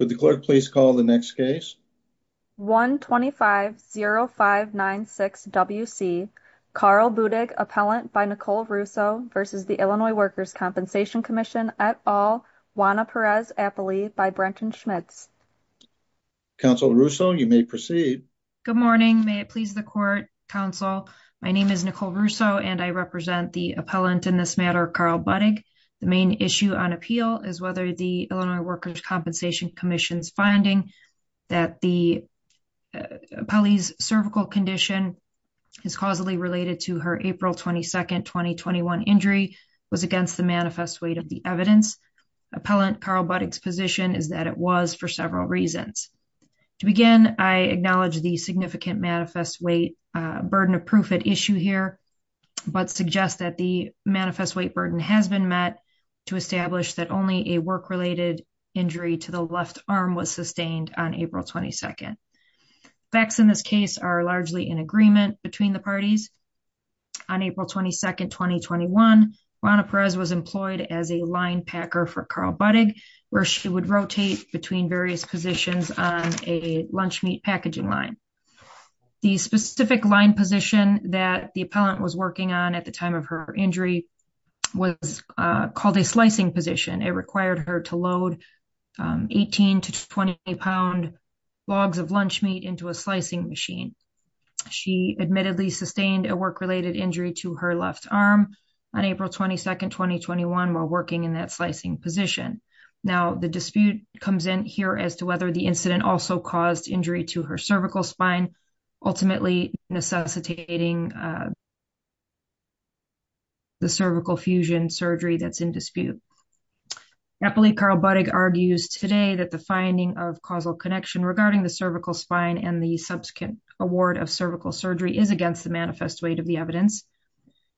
1-250-596-WC, Carl Budig, Appellant by Nicole Russo v. Illinois Workers' Compensation Commission et al., Juana Perez-Appley by Brenton Schmitz. Counsel Russo, you may proceed. Good morning. May it please the Court, Counsel, my name is Nicole Russo and I represent the appellant in this matter, Carl Budig. The main issue on appeal is whether the Illinois Workers' Compensation Commission's finding that the appellee's cervical condition is causally related to her April 22, 2021, injury was against the manifest weight of the evidence. Appellant Carl Budig's position is that it was for several reasons. To begin, I acknowledge the significant manifest weight burden of proof at issue here but suggest that the manifest weight burden has been met to establish that only a work-related injury to the left arm was sustained on April 22. Facts in this case are largely in agreement between the parties. On April 22, 2021, Juana Perez was employed as a line packer for Carl Budig where she would rotate between various positions on a lunch meat packaging line. The specific line position that the appellant was working on at the time of her injury was called a slicing position. It required her to load 18 to 20 pound logs of lunch meat into a slicing machine. She admittedly sustained a work-related injury to her left arm on April 22, 2021, while working in that slicing position. Now the dispute comes in here as to whether the incident also caused injury to her cervical spine, ultimately necessitating the cervical fusion surgery that's in dispute. Appellant Carl Budig argues today that the finding of causal connection regarding the cervical spine and the subsequent award of cervical surgery is against the manifest weight of the evidence.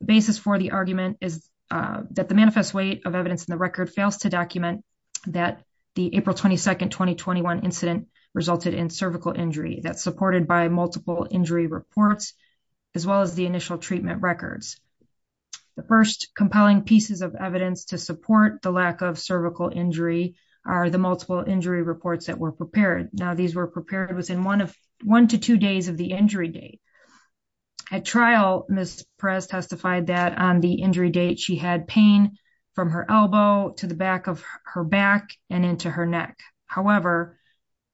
The basis for the argument is that the manifest weight of evidence in the record fails to document that the April 22, 2021 incident resulted in cervical injury that's supported by multiple injury reports, as well as the initial treatment records. The first compelling pieces of evidence to support the lack of cervical injury are the multiple injury reports that were prepared. Now these were prepared within one to two days of the injury date. At trial, Ms. Perez testified that on the injury date, she had pain from her elbow to the back of her back and into her neck. However,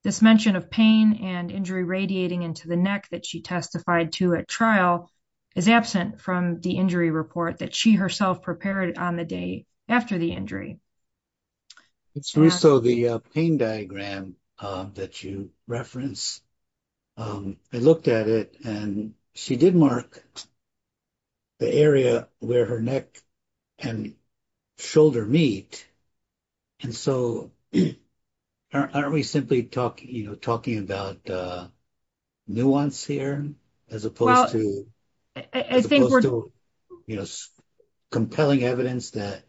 this mention of pain and injury radiating into the neck that she testified to at trial is absent from the injury report that she herself prepared on the day after the injury. It's Russo, the pain diagram that you reference. I looked at it and she did mark the area where her neck and shoulder meet. And so aren't we simply talking about nuance here as opposed to compelling evidence that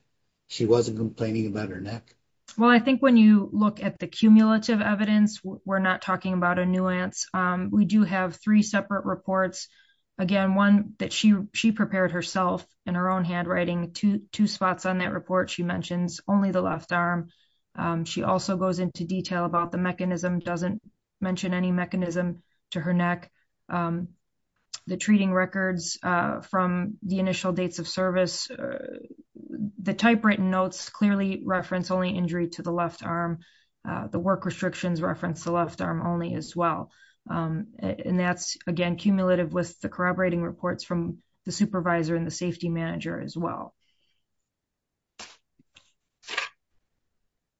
she wasn't complaining about her neck? Well, I think when you look at the cumulative evidence, we're not talking about a nuance. We do have three separate reports. Again, one that she prepared herself in her own handwriting, two spots on that report she mentions, only the left arm. She also goes into detail about the mechanism, doesn't mention any mechanism to her neck. The treating records from the initial dates of service, the typewritten notes clearly reference only injury to the left arm. The work restrictions reference the left arm only as well. And that's again, cumulative with the corroborating reports from the supervisor and the safety manager as well.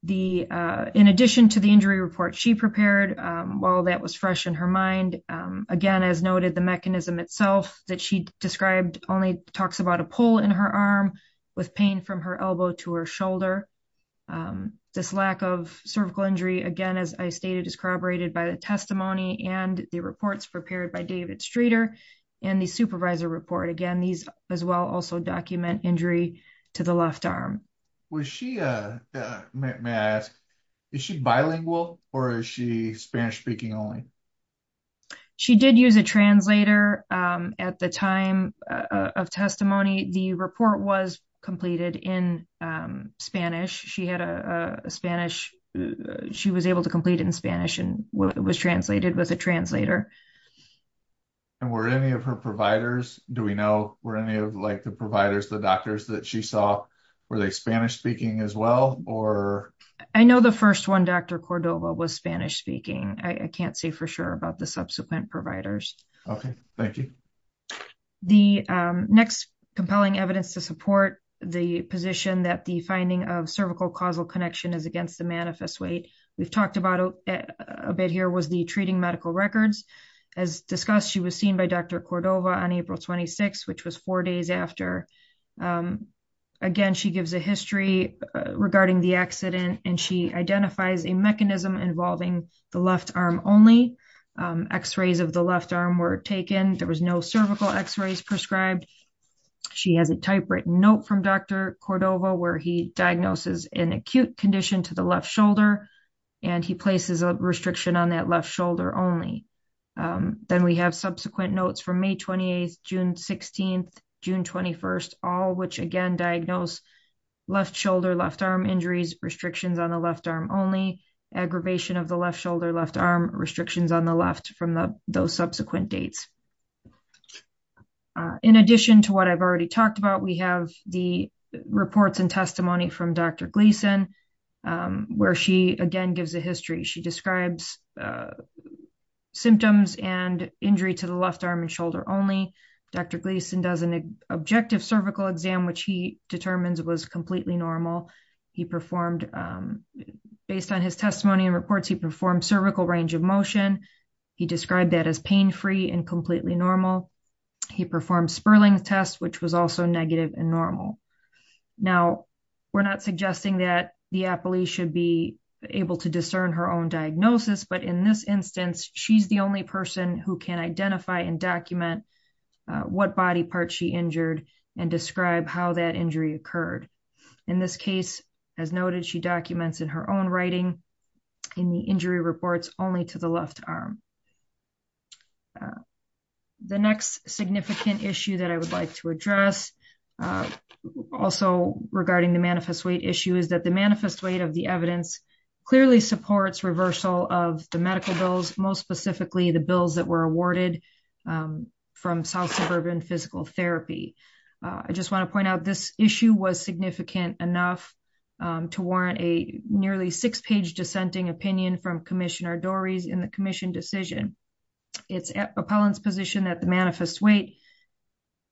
In addition to the injury report she prepared, while that was fresh in her mind, again, as noted the mechanism itself that she described only talks about a pull in her arm with pain from her elbow to her shoulder. This lack of cervical injury, again, as I stated, is corroborated by the testimony and the reports prepared by David Streeter and the supervisor report. Again, these as well also document injury to the left arm. Was she, may I ask, is she bilingual or is she Spanish speaking only? She did use a translator at the time of testimony. The report was completed in Spanish. She had a Spanish, she was able to complete it in Spanish and it was translated with a translator. And were any of her providers, do we know, were any of like the providers, the doctors that she saw, were they Spanish speaking as well or? I know the first one, Dr. Cordova was Spanish speaking. I can't say for sure about the subsequent providers. Okay, thank you. The next compelling evidence to support the position that the finding of cervical causal connection is against the manifest weight, we've talked about a bit here, was the treating medical records. As discussed, she was seen by Dr. Cordova on April 26th, which was four days after. Again, she gives a history regarding the accident and she identifies a mechanism involving the left arm only, x-rays of the left arm were taken. There was no cervical x-rays prescribed. She has a typewritten note from Dr. Cordova where he diagnoses an acute condition to the left shoulder and he places a restriction on that left shoulder only. Then we have subsequent notes from May 28th, June 16th, June 21st, all which again diagnose left shoulder, left arm injuries, restrictions on the left arm only, aggravation of the left In addition to what I've already talked about, we have the reports and testimony from Dr. Gleason, where she again gives a history. She describes symptoms and injury to the left arm and shoulder only. Dr. Gleason does an objective cervical exam, which he determines was completely normal. He performed, based on his testimony and reports, he performed cervical range of motion. He described that as pain-free and completely normal. He performed Sperling's test, which was also negative and normal. Now we're not suggesting that the appellee should be able to discern her own diagnosis, but in this instance, she's the only person who can identify and document what body parts she injured and describe how that injury occurred. In this case, as noted, she documents in her own writing in the injury reports only to the left arm. The next significant issue that I would like to address also regarding the manifest weight issue is that the manifest weight of the evidence clearly supports reversal of the medical bills, most specifically the bills that were awarded from South Suburban Physical Therapy. I just want to point out this issue was significant enough to warrant a nearly six-page dissenting opinion from Commissioner Dorries in the commission decision. It's appellant's position that the manifest weight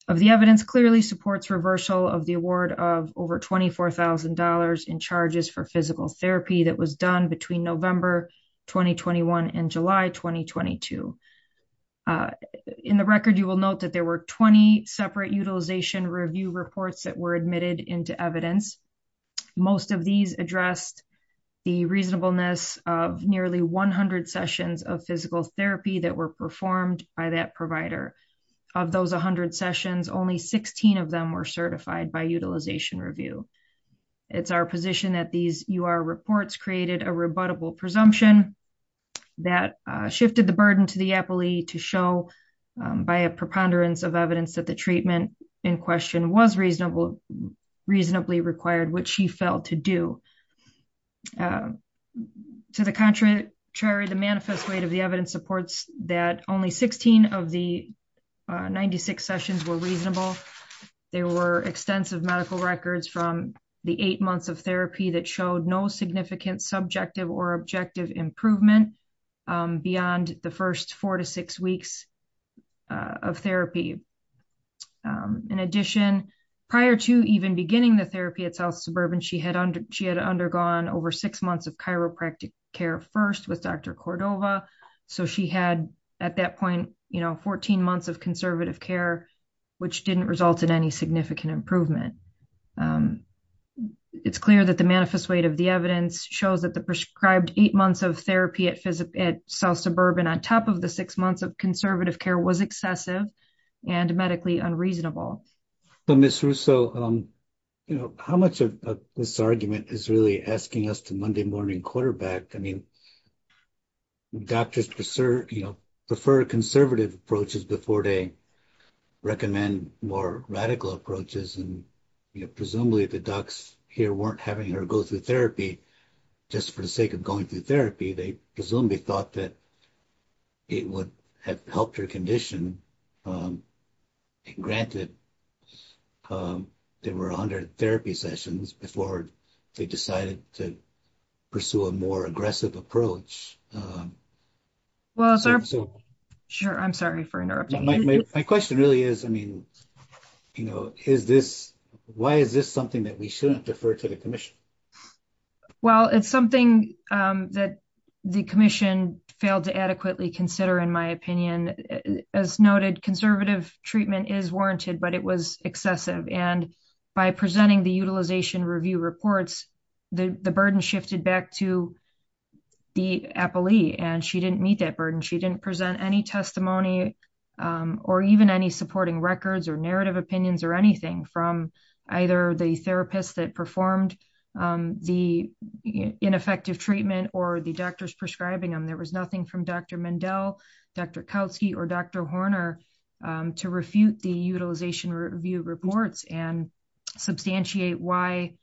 of the evidence clearly supports reversal of the award of over $24,000 in charges for physical therapy that was done between November 2021 and July 2022. In the record, you will note that there were 20 separate utilization review reports that were admitted into evidence. Most of these addressed the reasonableness of nearly 100 sessions of physical therapy that were performed by that provider. Of those 100 sessions, only 16 of them were certified by utilization review. It's our position that these UR reports created a rebuttable presumption that shifted the burden to the appellee to show by a preponderance of evidence that the treatment in question was reasonably required, which she felt to do. To the contrary, the manifest weight of the evidence supports that only 16 of the 96 sessions were reasonable. There were extensive medical records from the eight months of therapy that showed no significant subjective or objective improvement beyond the first four to six weeks of therapy. In addition, prior to even beginning the therapy at South Suburban, she had undergone over six months of chiropractic care first with Dr. Cordova. She had, at that point, 14 months of conservative care, which didn't result in any significant improvement. It's clear that the manifest weight of the evidence shows that the prescribed eight months of therapy at South Suburban, on top of the six months of conservative care, was excessive and medically unreasonable. But Ms. Russo, you know, how much of this argument is really asking us to Monday morning quarterback? I mean, doctors prefer conservative approaches before they recommend more radical approaches. Presumably, the docs here weren't having her go through therapy just for the sake of going through therapy. They presumably thought that it would have helped her condition, granted there were 100 therapy sessions before they decided to pursue a more aggressive approach. Sure, I'm sorry for interrupting you. My question really is, I mean, you know, is this, why is this something that we shouldn't defer to the commission? Well, it's something that the commission failed to adequately consider, in my opinion. As noted, conservative treatment is warranted, but it was excessive. And by presenting the utilization review reports, the burden shifted back to the appellee and she didn't meet that burden. She didn't present any testimony or even any supporting records or narrative opinions or anything from either the therapist that performed the ineffective treatment or the doctors prescribing them. There was nothing from Dr. Mendel, Dr. Kautsky, or Dr. Horner to refute the utilization review reports and substantiate why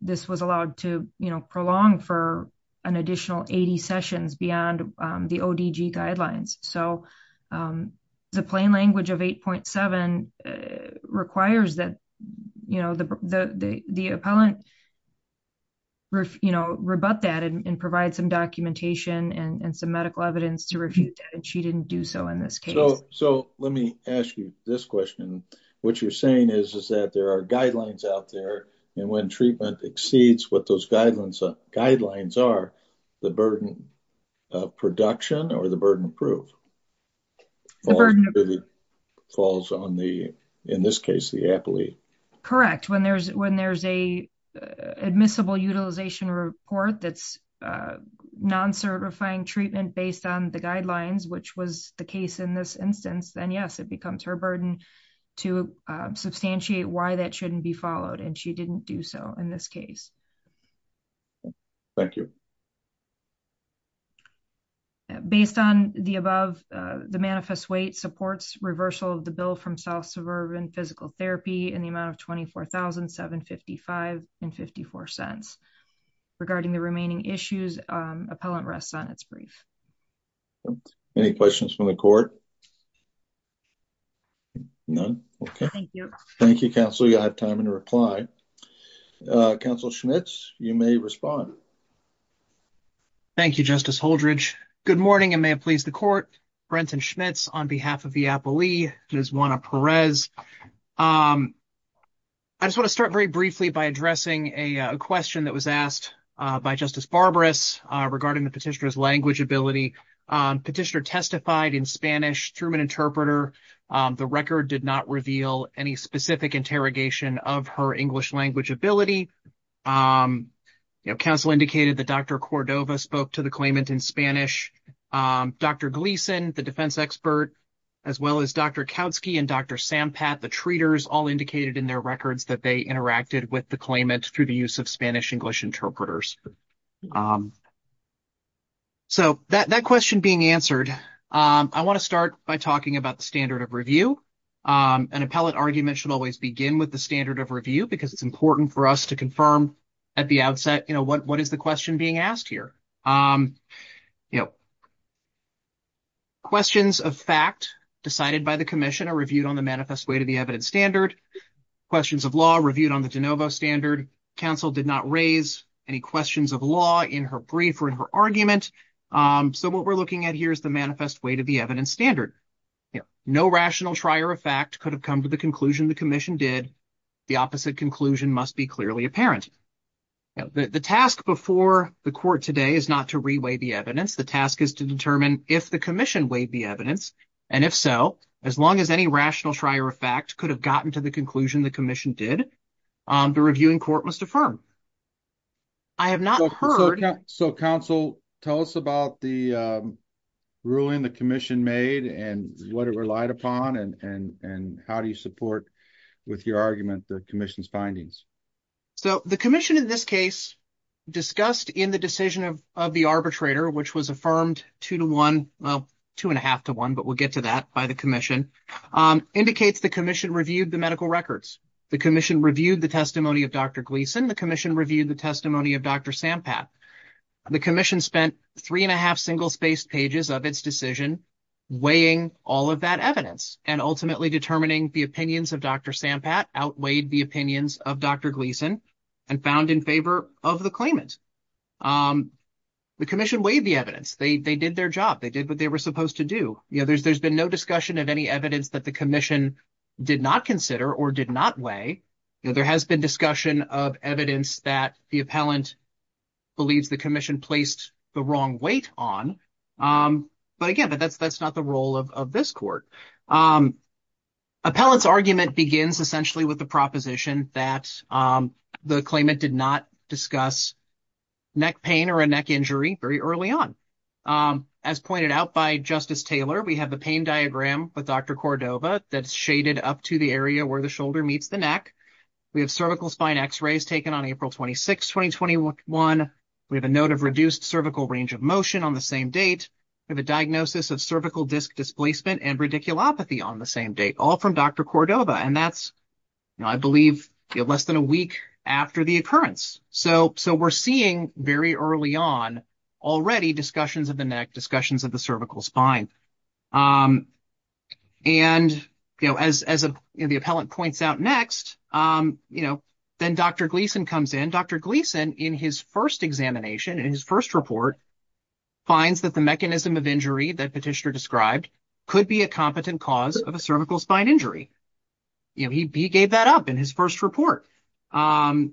this was allowed to prolong for an additional 80 sessions beyond the ODG guidelines. So the plain language of 8.7 requires that, you know, the appellant, you know, rebut that and provide some documentation and some medical evidence to refute that, and she didn't do so in this case. So let me ask you this question. What you're saying is, is that there are guidelines out there, and when treatment exceeds what those guidelines are, the burden of production or the burden of proof falls on the, in this case, the appellee. Correct. When there's a admissible utilization report that's non-certifying treatment based on the guidelines, which was the case in this instance, then yes, it becomes her burden to substantiate why that shouldn't be followed, and she didn't do so in this case. Thank you. Based on the above, the manifest weight supports reversal of the bill from self-suburban physical therapy in the amount of $24,755.54. Regarding the remaining issues, appellant rests on its brief. Any questions from the court? None. Okay. Thank you. Thank you, counsel. You have time to reply. Counsel Schmitz, you may respond. Thank you, Justice Holdredge. Good morning, and may it please the court. Brenton Schmitz on behalf of the appellee, Ms. Juana Perez. I just want to start very briefly by addressing a question that was asked by Justice Barbaras regarding the petitioner's language ability. Petitioner testified in Spanish through an interpreter. The record did not reveal any specific interrogation of her English language ability. Counsel indicated that Dr. Cordova spoke to the claimant in Spanish. Dr. Gleason, the defense expert, as well as Dr. Kautsky and Dr. Sampath, the treaters, all indicated in their records that they interacted with the claimant through the use of Spanish-English interpreters. So, that question being answered, I want to start by talking about the standard of review. An appellate argument should always begin with the standard of review because it's important for us to confirm at the outset, you know, what is the question being asked here? You know, questions of fact decided by the commission are reviewed on the manifest way to the evidence standard. Questions of law reviewed on the de novo standard. Counsel did not raise any questions of law in her brief or in her argument. So, what we're looking at here is the manifest way to the evidence standard. No rational trier of fact could have come to the conclusion the commission did. The opposite conclusion must be clearly apparent. The task before the court today is not to reweigh the evidence. The task is to determine if the commission weighed the evidence. And if so, as long as any rational trier of fact could have gotten to the conclusion the commission did, the reviewing court must affirm. I have not heard. So, counsel, tell us about the ruling the commission made and what it relied upon and how do you support with your argument the commission's findings? So, the commission in this case discussed in the decision of the arbitrator, which was affirmed two to one, well, two and a half to one, but we'll get to that by the commission, indicates the commission reviewed the medical records. The commission reviewed the testimony of Dr. Gleason. The commission reviewed the testimony of Dr. Sampat. The commission spent three and a half single-spaced pages of its decision weighing all of that evidence and ultimately determining the opinions of Dr. Sampat outweighed the opinions of Dr. Gleason and found in favor of the claimant. The commission weighed the evidence. They did their job. They did what they were supposed to do. There's been no discussion of any evidence that the commission did not consider or did not weigh. There has been discussion of evidence that the appellant believes the commission placed the wrong weight on. But again, that's not the role of this court. Appellant's argument begins essentially with the proposition that the claimant did not discuss neck pain or a neck injury very early on. As pointed out by Justice Taylor, we have the pain diagram with Dr. Cordova that's shaded up to the area where the shoulder meets the neck. We have cervical spine x-rays taken on April 26, 2021. We have a note of reduced cervical range of motion on the same date. We have a diagnosis of cervical disc displacement and radiculopathy on the same date, all from Dr. Cordova. And that's, I believe, less than a week after the occurrence. So we're seeing very early on already discussions of the neck, discussions of the cervical spine. And as the appellant points out next, then Dr. Gleason comes in. Dr. Gleason, in his first examination, in his first report, finds that the mechanism of injury that Petitioner described could be a competent cause of a cervical spine injury. He gave that up in his first report. You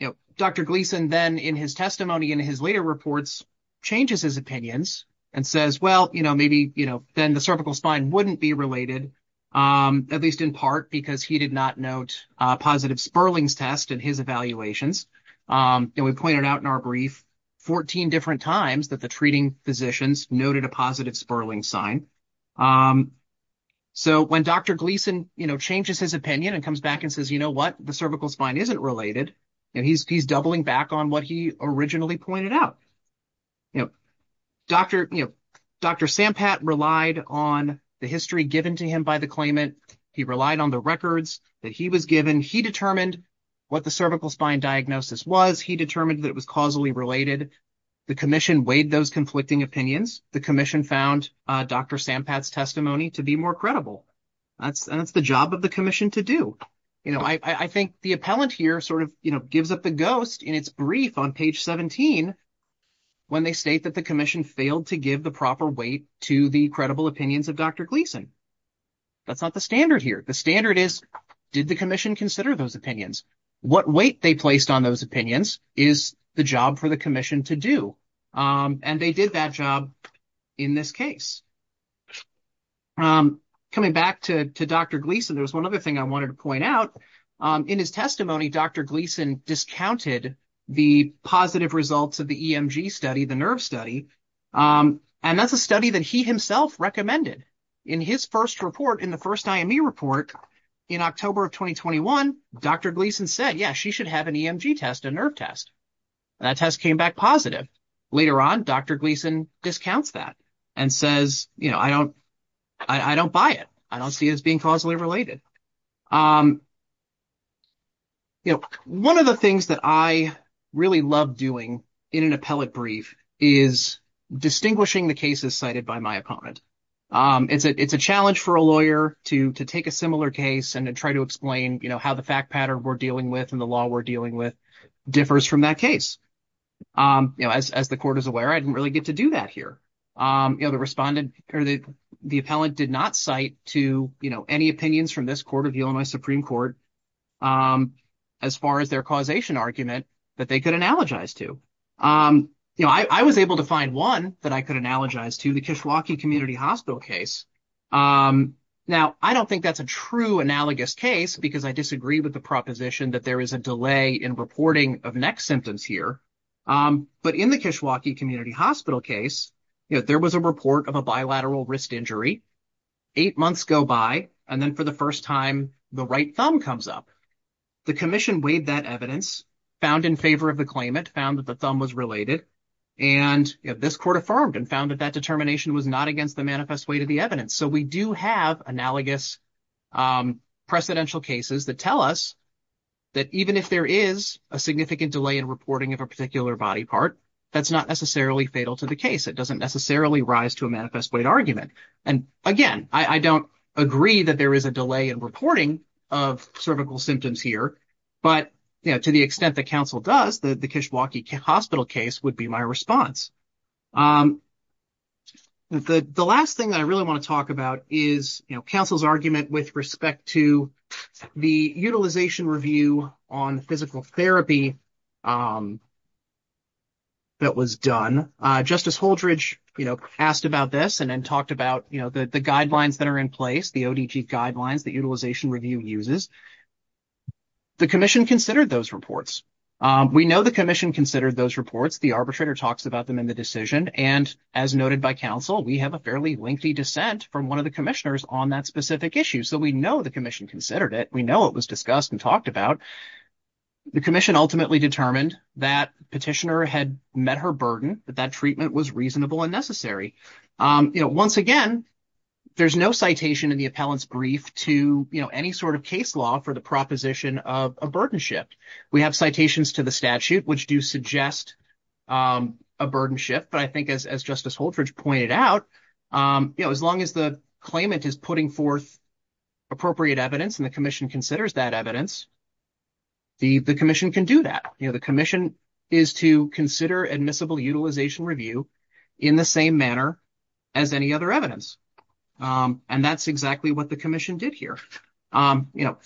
know, Dr. Gleason then, in his testimony in his later reports, changes his opinions and says, well, you know, maybe, you know, then the cervical spine wouldn't be related, at least in part because he did not note a positive Sperling's test in his evaluations. And we pointed out in our brief 14 different times that the treating physicians noted a positive Sperling's sign. So when Dr. Gleason, you know, changes his opinion and comes back and says, you know what, the cervical spine isn't related, and he's doubling back on what he originally pointed out. You know, Dr. Sampat relied on the history given to him by the claimant. He relied on the records that he was given. He determined what the cervical spine diagnosis was. He determined that it was causally related. The commission weighed those conflicting opinions. The commission found Dr. Sampat's testimony to be more credible. That's the job of the commission to do. You know, I think the appellant here sort of, you know, gives up the ghost in its brief on page 17 when they state that the commission failed to give the proper weight to the credible opinions of Dr. Gleason. That's not the standard here. The standard is, did the commission consider those opinions? What weight they placed on those opinions is the job for the commission to do. And they did that job in this case. Coming back to Dr. Gleason, there's one other thing I wanted to point out. In his testimony, Dr. Gleason discounted the positive results of the EMG study, the nerve study, and that's a study that he himself recommended. In his first report, in the first IME report in October of 2021, Dr. Gleason said, yeah, she should have an EMG test, a nerve test. That test came back positive. Later on, Dr. Gleason discounts that and says, you know, I don't buy it. I don't see it as being causally related. You know, one of the things that I really love doing in an appellate brief is distinguishing the cases cited by my opponent. It's a challenge for a lawyer to take a similar case and to try to explain, you know, how the fact pattern we're dealing with and the law we're dealing with differs from that case. You know, as the court is aware, I didn't really get to do that here. You know, the respondent or the appellant did not cite to, you know, any opinions from this Court of the Illinois Supreme Court as far as their causation argument that they could analogize to. You know, I was able to find one that I could analogize to, the Kishwaukee Community Hospital case. Now, I don't think that's a true analogous case because I disagree with the proposition that there is a delay in reporting of next symptoms here. But in the Kishwaukee Community Hospital case, you know, there was a report of a bilateral wrist injury. Eight months go by, and then for the first time, the right thumb comes up. The commission weighed that evidence, found in favor of the claimant, found that the thumb was related, and, you know, this court affirmed and found that that determination was not against the manifest weight of the evidence. So we do have analogous precedential cases that tell us that even if there is a significant delay in reporting of a particular body part, that's not necessarily fatal to the case. It doesn't necessarily rise to a manifest weight argument. And again, I don't agree that there is a delay in reporting of cervical symptoms here. But, you know, to the extent that counsel does, the Kishwaukee Hospital case would be my response. The last thing that I really want to talk about is, you know, the Utilization Review on Physical Therapy that was done. Justice Holdredge, you know, asked about this and then talked about, you know, the guidelines that are in place, the ODG guidelines that Utilization Review uses. The commission considered those reports. We know the commission considered those reports. The arbitrator talks about them in the decision. And as noted by counsel, we have a fairly lengthy dissent from one of the commissioners on that specific issue. So we know the commission considered it. We know it was discussed and talked about. The commission ultimately determined that petitioner had met her burden, that that treatment was reasonable and necessary. You know, once again, there's no citation in the appellant's brief to, you know, any sort of case law for the proposition of a burden shift. We have citations to the statute which do suggest a burden shift. But I think as Justice Holdredge pointed out, you know, as long as the claimant is putting forth appropriate evidence and the commission considers that evidence, the commission can do that. You know, the commission is to consider admissible Utilization Review in the same manner as any other evidence. And that's exactly what the commission did here. You know,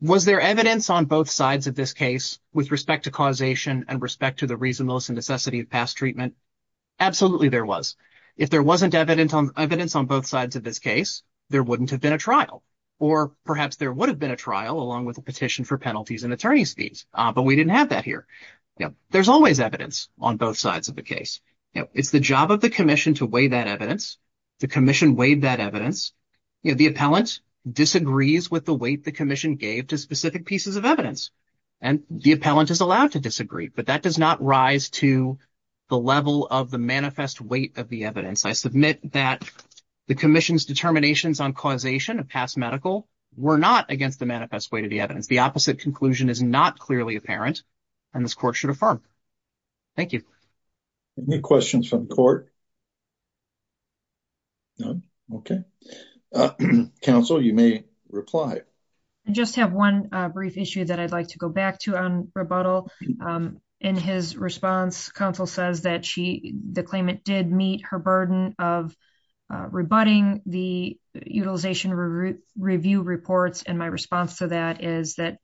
was there evidence on both sides of this case with respect to causation and respect to the reasonableness and necessity of past treatment? Absolutely there was. If there wasn't evidence on both sides of this case, there wouldn't have been a trial. Or perhaps there would have been a trial along with a petition for penalties and attorney's fees. But we didn't have that here. You know, there's always evidence on both sides of the case. You know, it's the job of the commission to weigh that evidence. The commission weighed that evidence. You know, the appellant disagrees with the weight the commission gave to specific pieces of evidence. And the appellant is allowed to disagree. But that does not rise to the level of the manifest weight of the evidence. I submit that the commission's determinations on causation and past medical were not against the manifest weight of the evidence. The opposite conclusion is not clearly apparent. And this court should affirm. Thank you. Any questions from court? None. Okay. Counsel, you may reply. I just have one brief issue that I'd like to go back to on rebuttal. In his response, counsel says that the claimant did meet her burden of rebutting the utilization review reports. And my response to that is that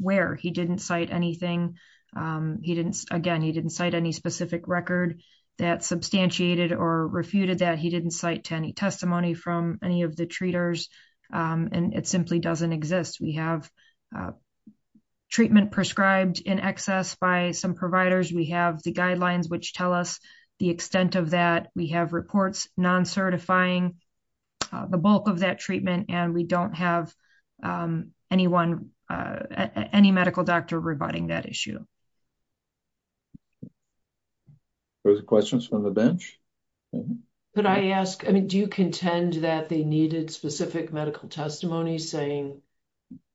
where he didn't cite anything. He didn't, again, he didn't cite any specific record that substantiated or refuted that. He didn't cite any testimony from any of the treaters. And it simply doesn't exist. We have treatment prescribed in excess by some providers. We have the guidelines which tell us the extent of that. We have reports non-certifying the bulk of that treatment. And we don't have anyone, any medical doctor rebutting that issue. Further questions from the bench? Could I ask, I mean, do you contend that they needed specific medical testimony saying,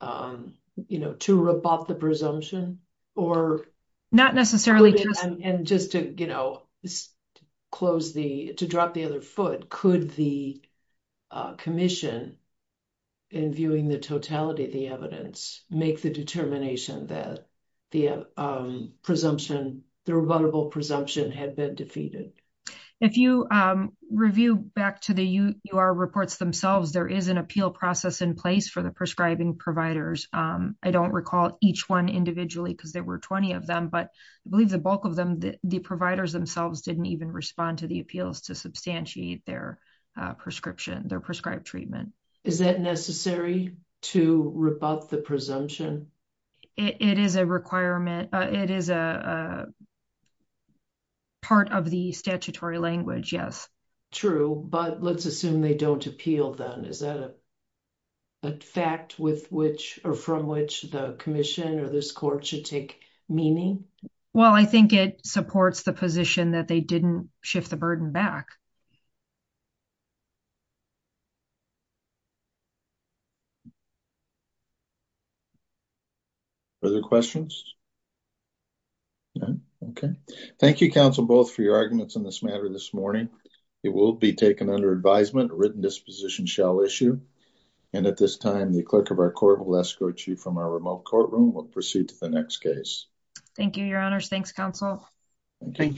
you know, to rebut the presumption or. Not necessarily. And just to, you know, close the, to drop the other foot. Could the commission, in viewing the totality of the evidence, make the determination that the presumption, the rebuttable presumption had been defeated? If you review back to the UR reports themselves, there is an appeal process in place for the prescribing providers. I don't recall each one individually because there were 20 of them. But I believe the bulk of them, the providers themselves, didn't even respond to the appeals to substantiate their prescription, their prescribed treatment. Is that necessary to rebut the presumption? It is a requirement. It is a part of the statutory language. Yes. True. But let's assume they don't appeal then. Is that a fact with which or from which the commission or this court should take meaning? Well, I think it supports the position that they didn't shift the burden back. Further questions? Okay. Thank you, counsel, both for your arguments on this matter this morning. It will be taken under advisement. Written disposition shall issue. And at this time, the clerk of our court will escort you from our remote courtroom will proceed to the next case. Thank you, your honors. Thanks, counsel. Thank you.